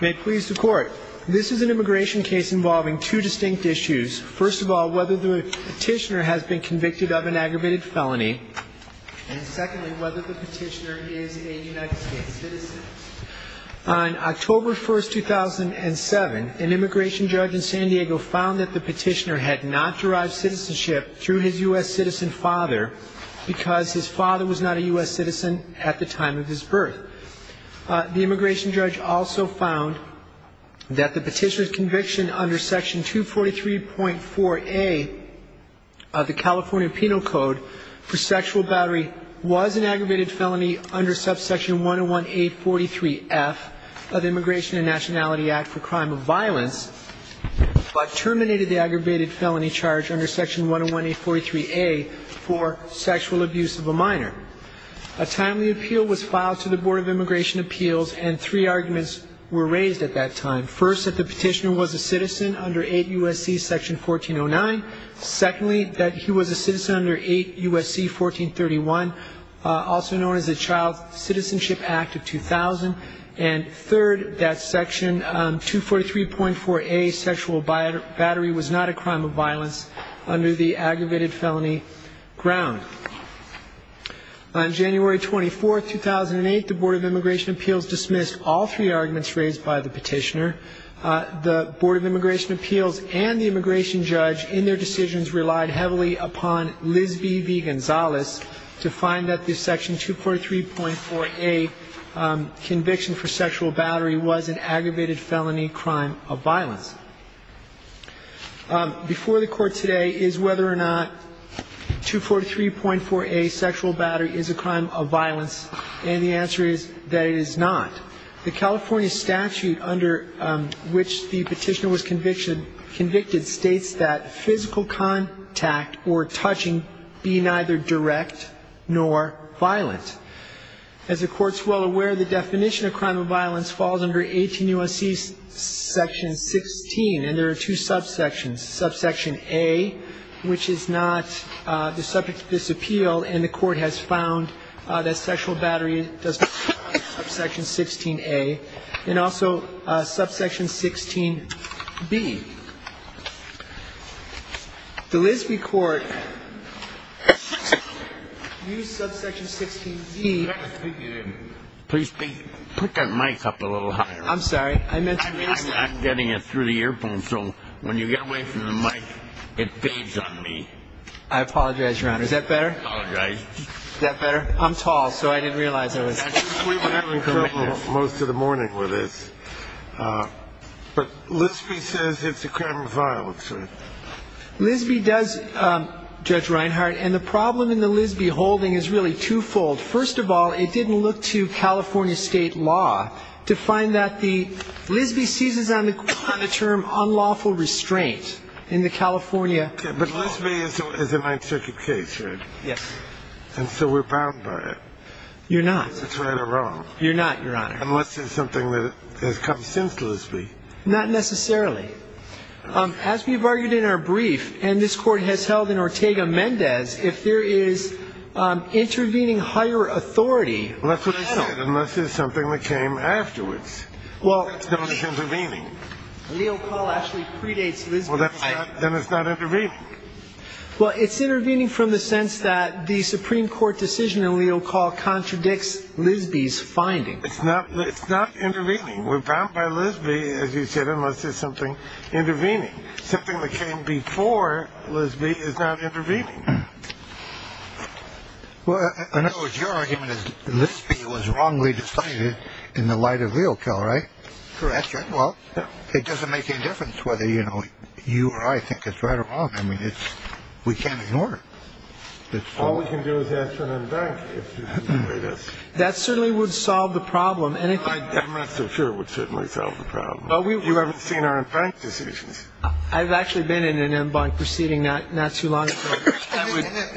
May it please the court. This is an immigration case involving two distinct issues. First of all, whether the petitioner has been convicted of an aggravated felony, and secondly, whether the petitioner is a United States citizen. On October 1, 2007, an immigration judge in San Diego found that the petitioner had not derived citizenship through his U.S. citizen father because his father was not a U.S. citizen at the time of his birth. The immigration judge also found that the petitioner's conviction under section 243.4a of the California Penal Code for sexual battery was an aggravated felony under subsection 101-843-F of the Immigration and Nationality Act for Crime of Violence, but terminated the aggravated felony charge under section 101-843-A for sexual abuse of a minor. A timely appeal was filed to the Board of Immigration Appeals, and three arguments were raised at that time. First, that the petitioner was a citizen under 8 U.S.C. section 1409. Secondly, that he was a citizen under 8 U.S.C. 1431, also known as the Child Citizenship Act of 2000. And third, that section 243.4a, sexual battery, was not a crime of violence under the aggravated felony ground. On January 24, 2008, the Board of Immigration Appeals dismissed all three arguments raised by the petitioner. The Board of Immigration Appeals and the immigration judge, in their decisions, relied heavily upon Liz B. V. Gonzalez to find that the section 243.4a conviction was not a crime of violence under the aggravated felony ground. The California statute, under which the petitioner was convicted, states that physical contact or touching be neither direct nor violent. As the Court's well aware, the definition, of course, is that a sexual battery is an aggravated felony crime of violence. And there are two subsections, subsection a, which is not the subject of this appeal, and the Court has found that sexual battery does not fall under subsection 16a, and also subsection 16b. The Liz B. Court used subsection 16b. Please put that mic up a little higher. I'm sorry. I meant to raise it. I'm getting it through the earphone, so when you get away from the mic, it fades on me. I apologize, Your Honor. Is that better? I apologize. Is that better? I'm tall, so I didn't realize it was. We were having trouble most of the morning with this. But Liz B. says it's a crime of violence, right? Liz B. does, Judge Reinhart, and the problem in the Liz B. holding is really twofold. First of all, it didn't look to California state law to find that the Liz B. seizes on the term unlawful restraint in the California law. But Liz B. is a Ninth Circuit case, right? Yes. And so we're bound by it. You're not. Is that right or wrong? You're not, Your Honor. Unless it's something that has come since Liz B. Not necessarily. As we've argued in our brief, and this Court has held in Ortega-Mendez, if there is intervening higher authority... Well, that's what I said, unless it's something that came afterwards. Well... That's not as intervening. Leocall actually predates Liz B. Well, then it's not intervening. Well, it's intervening from the sense that the Supreme Court decision in Leocall contradicts Liz B.'s finding. It's not intervening. We're bound by Liz B., as you said, unless it's something intervening. Something that came before Liz B. is not intervening. Well, in other words, your argument is Liz B. was wrongly decided in the light of Leocall, right? Correct. Well, it doesn't make any difference whether, you know, you or I think it's right or wrong. I mean, we can't ignore it. All we can do is ask for an inventory. That certainly would solve the problem. Well, I'm not so sure it would certainly solve the problem. You haven't seen our in fact decisions. I've actually been in an en banc proceeding not too long ago.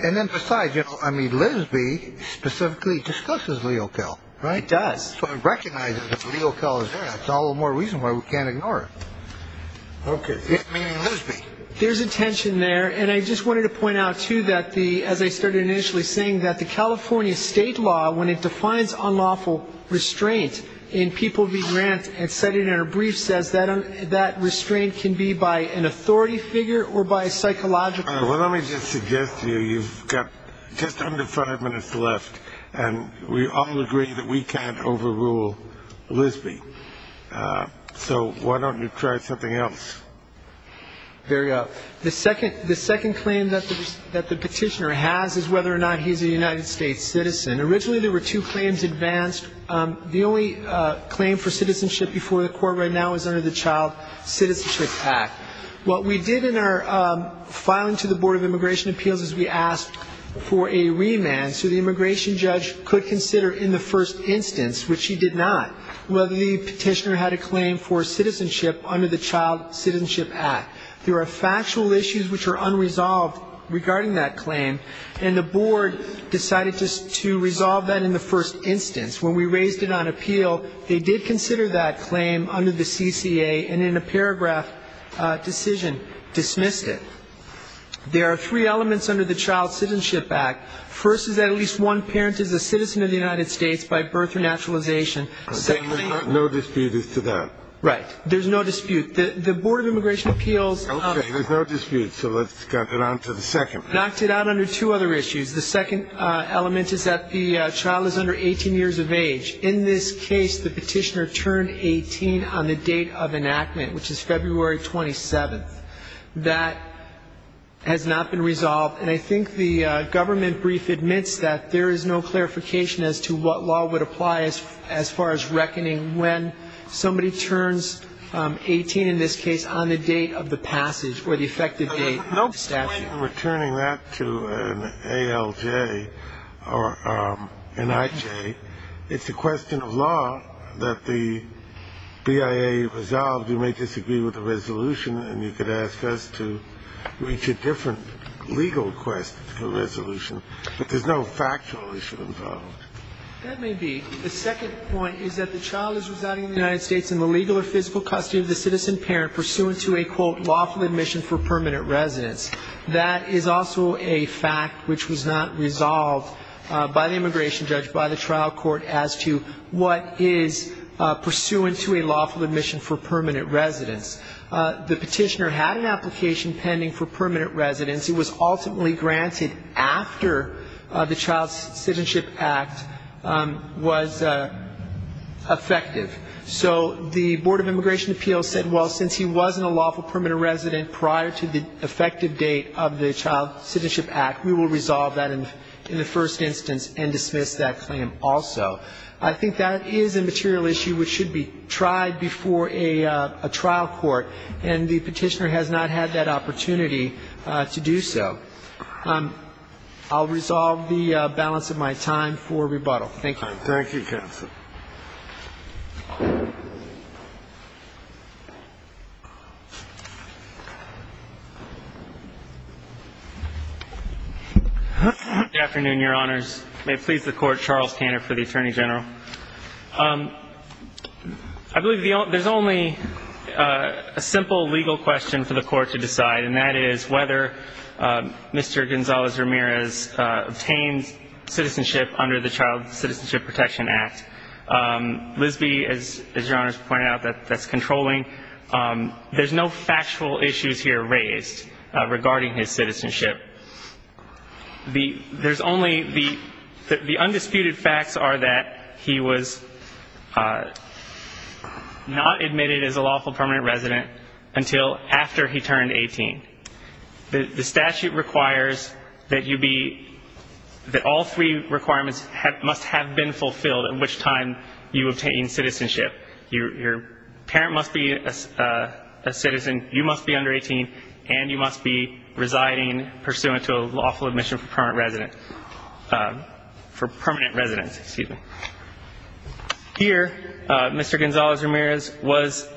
And then besides, you know, I mean, Liz B. specifically discusses Leocall, right? It does. So it recognizes that Leocall is there. That's all the more reason why we can't ignore it. Okay. Meaning Liz B. There's a tension there, and I just wanted to point out, too, that the, as I started initially saying, that the California state law, when it defines unlawful restraint in people being rant and cited in a brief, says that that restraint can be by an authority figure or by a psychological. Well, let me just suggest to you, you've got just under five minutes left, and we all agree that we can't overrule Liz B. So why don't you try something else? There you go. The second claim that the petitioner has is whether or not he's a United States citizen. Originally there were two claims advanced. The only claim for citizenship before the court right now is under the Child Citizenship Act. What we did in our filing to the Board of Immigration Appeals is we asked for a remand so the immigration judge could consider in the first instance, which he did not, whether the petitioner had a claim for citizenship under the Child Citizenship Act. There are factual issues which are unresolved regarding that claim, and the board decided to resolve that in the first instance. When we raised it on appeal, they did consider that claim under the CCA, and in a paragraph decision dismissed it. There are three elements under the Child Citizenship Act. First is that at least one parent is a citizen of the United States by birth or naturalization. There's no dispute as to that. Right. There's no dispute. The Board of Immigration Appeals knocked it out under two other issues. The second element is that the child is under 18 years of age. In this case, the petitioner turned 18 on the date of enactment, which is February 27th. That has not been resolved, and I think the government brief admits that there is no clarification as to what law would apply as far as reckoning when somebody turns 18, in this case, on the date of the passage or the effective date of the statute. No point in returning that to an ALJ or an IJ. It's a question of law that the BIA resolved. You may disagree with the resolution, and you could ask us to reach a different legal quest for resolution. But there's no factual issue involved. That may be. The second point is that the child is residing in the United States in the legal or physical custody of the citizen parent pursuant to a, quote, lawful admission for permanent residence. That is also a fact which was not resolved by the immigration judge, by the trial court, as to what is pursuant to a lawful admission for permanent residence. The petitioner had an application pending for permanent residence. It was ultimately granted after the Child Citizenship Act was effective. So the Board of Immigration Appeals said, well, since he wasn't a lawful permanent resident prior to the effective date of the Child Citizenship Act, we will resolve that in the first instance and dismiss that claim also. I think that is a material issue which should be tried before a trial court, and the petitioner has not had that opportunity to do so. I'll resolve the balance of my time for rebuttal. Thank you. Thank you, Counsel. Good afternoon, Your Honors. May it please the Court, Charles Tanner for the Attorney General. I believe there's only a simple legal question for the Court to decide, and that is whether Mr. Gonzalez-Ramirez obtained citizenship under the Child Citizenship Protection Act. Lisbee, as Your Honors pointed out, that's controlling. There's no factual issues here raised regarding his citizenship. The undisputed facts are that he was not admitted as a lawful permanent resident until after he turned 18. The statute requires that all three requirements must have been fulfilled at which time you obtained citizenship. Your parent must be a citizen, you must be under 18, and you must be residing pursuant to a lawful admission for permanent residence. Here, Mr. Gonzalez-Ramirez was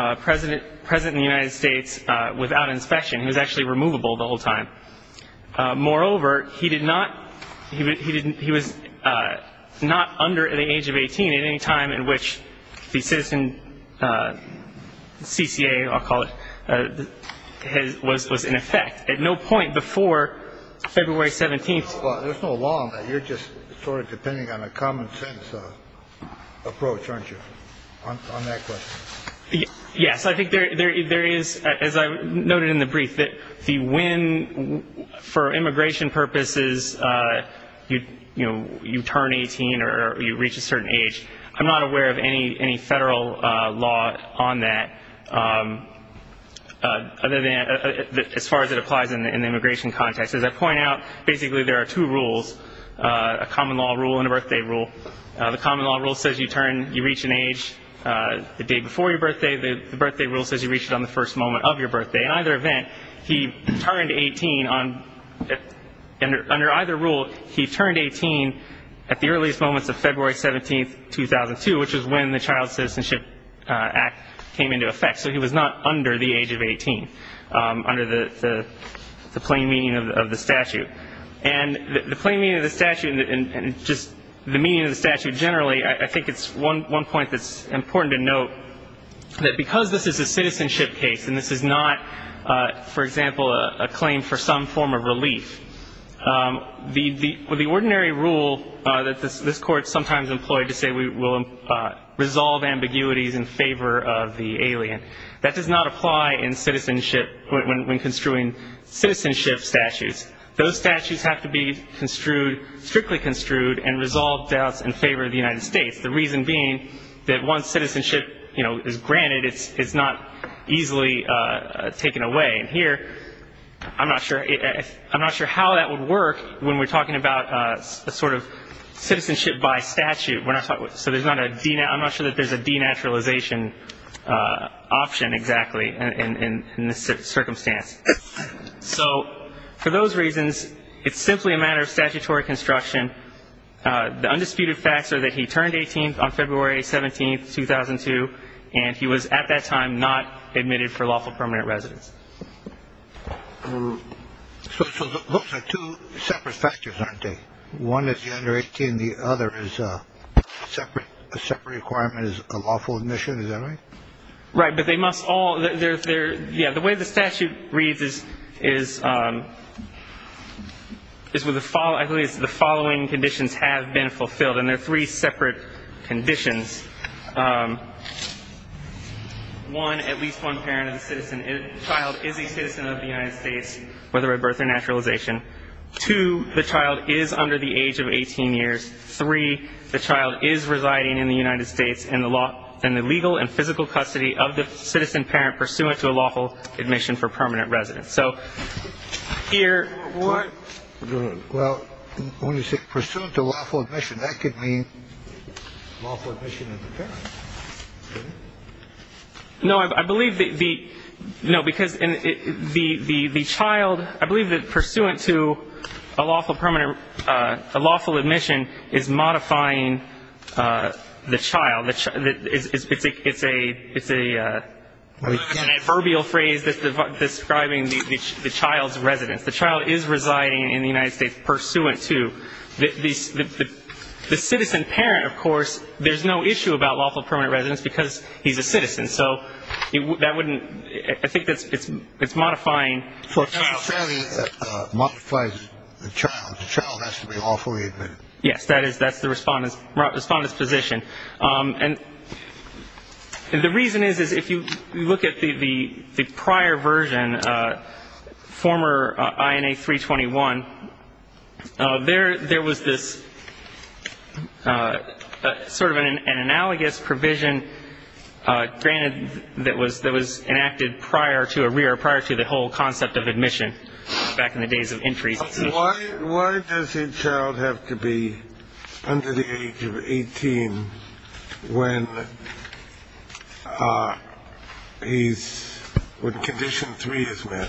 present in the United States without inspection. He was actually removable the whole time. Moreover, he was not under the age of 18 at any time in which the citizen CCA, I'll call it, was in effect. At no point before February 17th. There's no law on that. You're just sort of depending on a common-sense approach, aren't you, on that question? Yes. I think there is, as I noted in the brief, that for immigration purposes, you turn 18 or you reach a certain age. I'm not aware of any federal law on that, as far as it applies in the immigration context. As I point out, basically there are two rules, a common law rule and a birthday rule. The common law rule says you reach an age the day before your birthday. The birthday rule says you reach it on the first moment of your birthday. In either event, he turned 18 under either rule. He turned 18 at the earliest moments of February 17th, 2002, which was when the Child Citizenship Act came into effect. So he was not under the age of 18, under the plain meaning of the statute. And the plain meaning of the statute and just the meaning of the statute generally, I think it's one point that's important to note, that because this is a citizenship case and this is not, for example, a claim for some form of relief, the ordinary rule that this Court sometimes employed to say we will resolve ambiguities in favor of the alien, that does not apply in citizenship when construing citizenship statutes. Those statutes have to be strictly construed and resolve doubts in favor of the United States, the reason being that once citizenship is granted, it's not easily taken away. And here I'm not sure how that would work when we're talking about a sort of citizenship by statute. So I'm not sure that there's a denaturalization option exactly in this circumstance. So for those reasons, it's simply a matter of statutory construction. The undisputed facts are that he turned 18 on February 17th, 2002, and he was at that time not admitted for lawful permanent residence. So those are two separate statutes, aren't they? One is the under 18, the other is a separate requirement as a lawful admission. Is that right? Right. But they must all ‑‑ yeah, the way the statute reads is the following conditions have been fulfilled, and they're three separate conditions. One, at least one parent of the child is a citizen of the United States, whether by birth or denaturalization. Two, the child is under the age of 18 years. Three, the child is residing in the United States in the legal and physical custody of the citizen parent pursuant to a lawful admission for permanent residence. So here ‑‑ Well, when you say pursuant to lawful admission, that could mean lawful admission of the parent, couldn't it? No, I believe that the ‑‑ no, because the child, I believe that pursuant to a lawful admission is modifying the child. It's an adverbial phrase describing the child's residence. The child is residing in the United States pursuant to the citizen parent, of course. There's no issue about lawful permanent residence because he's a citizen. So that wouldn't ‑‑ I think it's modifying for a child. No, it fairly modifies the child. The child has to be lawfully admitted. Yes, that's the respondent's position. And the reason is, is if you look at the prior version, former INA 321, there was this sort of an analogous provision granted that was enacted prior to the whole concept of admission back in the days of entry. Why does a child have to be under the age of 18 when he's ‑‑ when condition 3 is met?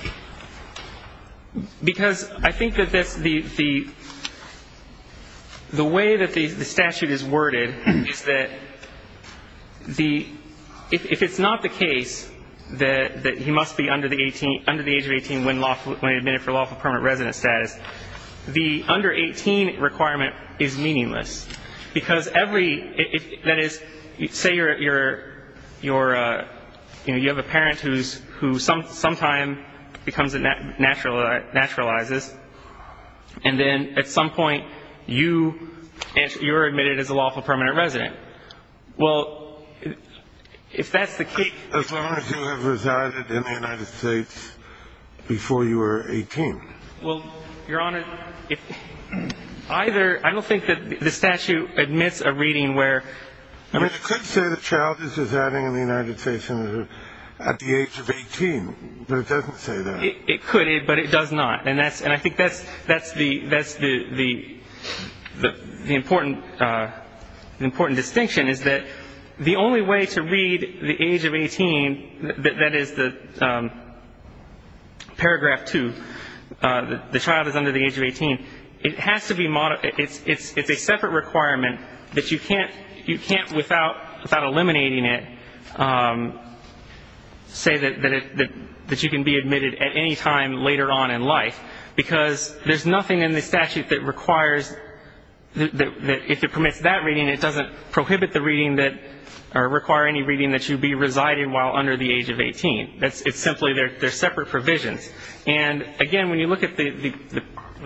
Because I think that the way that the statute is worded is that if it's not the case that he must be under the age of 18 when he's admitted for lawful permanent residence status, the under 18 requirement is meaningless. Because every ‑‑ that is, say you're, you know, you have a parent who sometimes naturalizes, and then at some point you're admitted as a lawful permanent resident. Well, if that's the case ‑‑ As long as you have resided in the United States before you were 18. Well, Your Honor, if either ‑‑ I don't think that the statute admits a reading where ‑‑ I mean, it could say the child is residing in the United States at the age of 18, but it doesn't say that. It could, but it does not. And I think that's the important distinction is that the only way to read the age of 18, that is the paragraph 2, the child is under the age of 18, it has to be ‑‑ it's a separate requirement that you can't, without eliminating it, say that you can be admitted at any time later on in life. Because there's nothing in the statute that requires ‑‑ that if it permits that reading, it doesn't prohibit the reading that ‑‑ or require any reading that you be residing while under the age of 18. It's simply they're separate provisions. And, again, when you look at the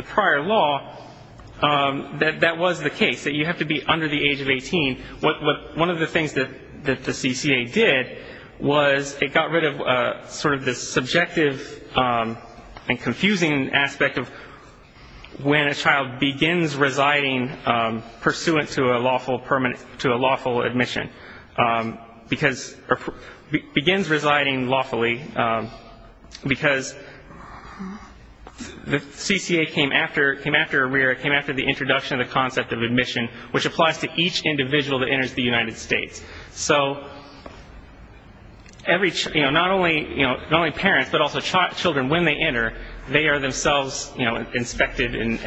prior law, that was the case, that you have to be under the age of 18. One of the things that the CCA did was it got rid of sort of the subjective and confusing aspect of when a child begins residing pursuant to a lawful admission. Begins residing lawfully because the CCA came after ARREA, came after the introduction of the concept of admission, which applies to each individual that enters the United States. So not only parents, but also children, when they enter, they are themselves inspected and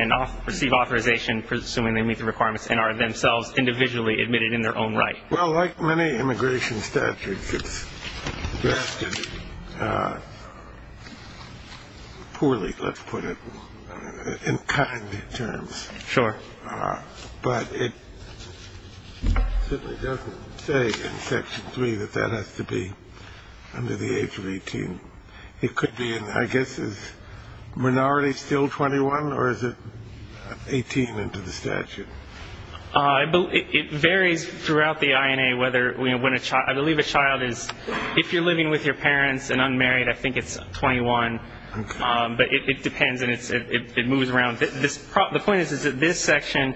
receive authorization pursuant to the admission requirements and are themselves individually admitted in their own right. Well, like many immigration statutes, it's drafted poorly, let's put it, in kind terms. Sure. But it simply doesn't say in Section 3 that that has to be under the age of 18. It could be in, I guess, is minority still 21, or is it 18 into the statute? It varies throughout the INA. I believe a child is, if you're living with your parents and unmarried, I think it's 21. Okay. But it depends and it moves around. The point is that this section,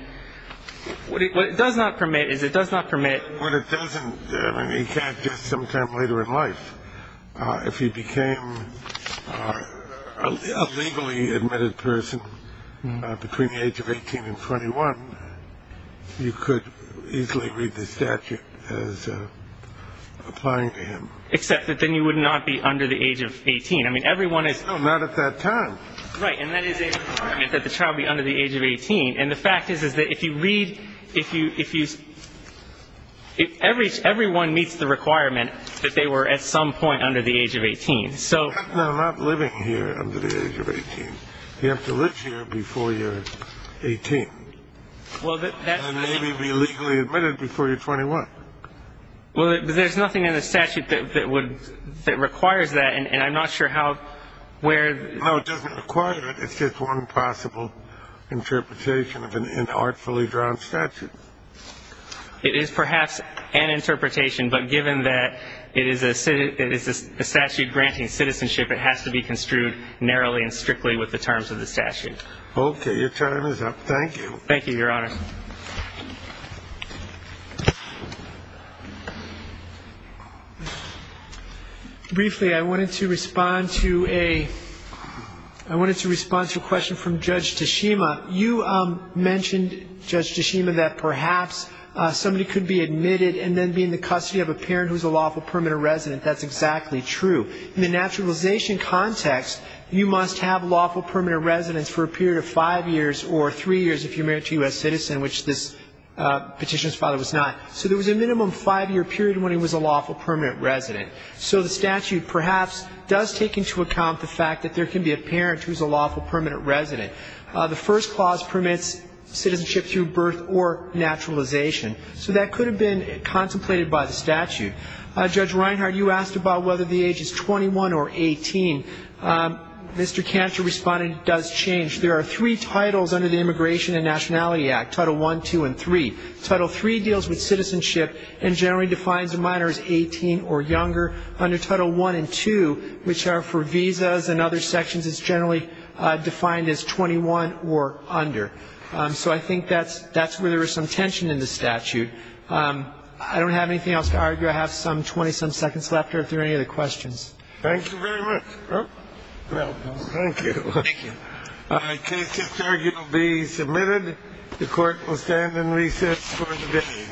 what it does not permit is it does not permit. What it doesn't, I mean, you can't just sometime later in life. If he became a legally admitted person between the age of 18 and 21, you could easily read the statute as applying to him. Except that then you would not be under the age of 18. I mean, everyone is. No, not at that time. Right. And that is a requirement that the child be under the age of 18. And the fact is, is that if you read, if you, if you, if everyone meets the requirement that they were at some point under the age of 18, so. No, not living here under the age of 18. You have to live here before you're 18. Well, that's. And maybe be legally admitted before you're 21. Well, there's nothing in the statute that would, that requires that. And I'm not sure how, where. No, it doesn't require it. It's just one possible interpretation of an artfully drawn statute. It is perhaps an interpretation. But given that it is a statute granting citizenship, it has to be construed narrowly and strictly with the terms of the statute. Okay. Your time is up. Thank you. Thank you, Your Honor. Briefly, I wanted to respond to a, I wanted to respond to a question from Judge Tashima. You mentioned, Judge Tashima, that perhaps somebody could be admitted and then be in the custody of a parent who is a lawful permanent resident. That's exactly true. In the naturalization context, you must have lawful permanent residence for a period of five years or three years if you're married to a U.S. citizen. Which this petitioner's father was not. So there was a minimum five-year period when he was a lawful permanent resident. So the statute perhaps does take into account the fact that there can be a parent who is a lawful permanent resident. The first clause permits citizenship through birth or naturalization. So that could have been contemplated by the statute. Judge Reinhardt, you asked about whether the age is 21 or 18. Mr. Cantor responded, it does change. There are three titles under the Immigration and Nationality Act, Title I, II, and III. Title III deals with citizenship and generally defines a minor as 18 or younger. Under Title I and II, which are for visas and other sections, it's generally defined as 21 or under. So I think that's where there is some tension in the statute. I don't have anything else to argue. I have some 20-some seconds left here if there are any other questions. Thank you very much. Thank you. Thank you. All right. Case is here. It will be submitted. The Court will stand and recess for the day.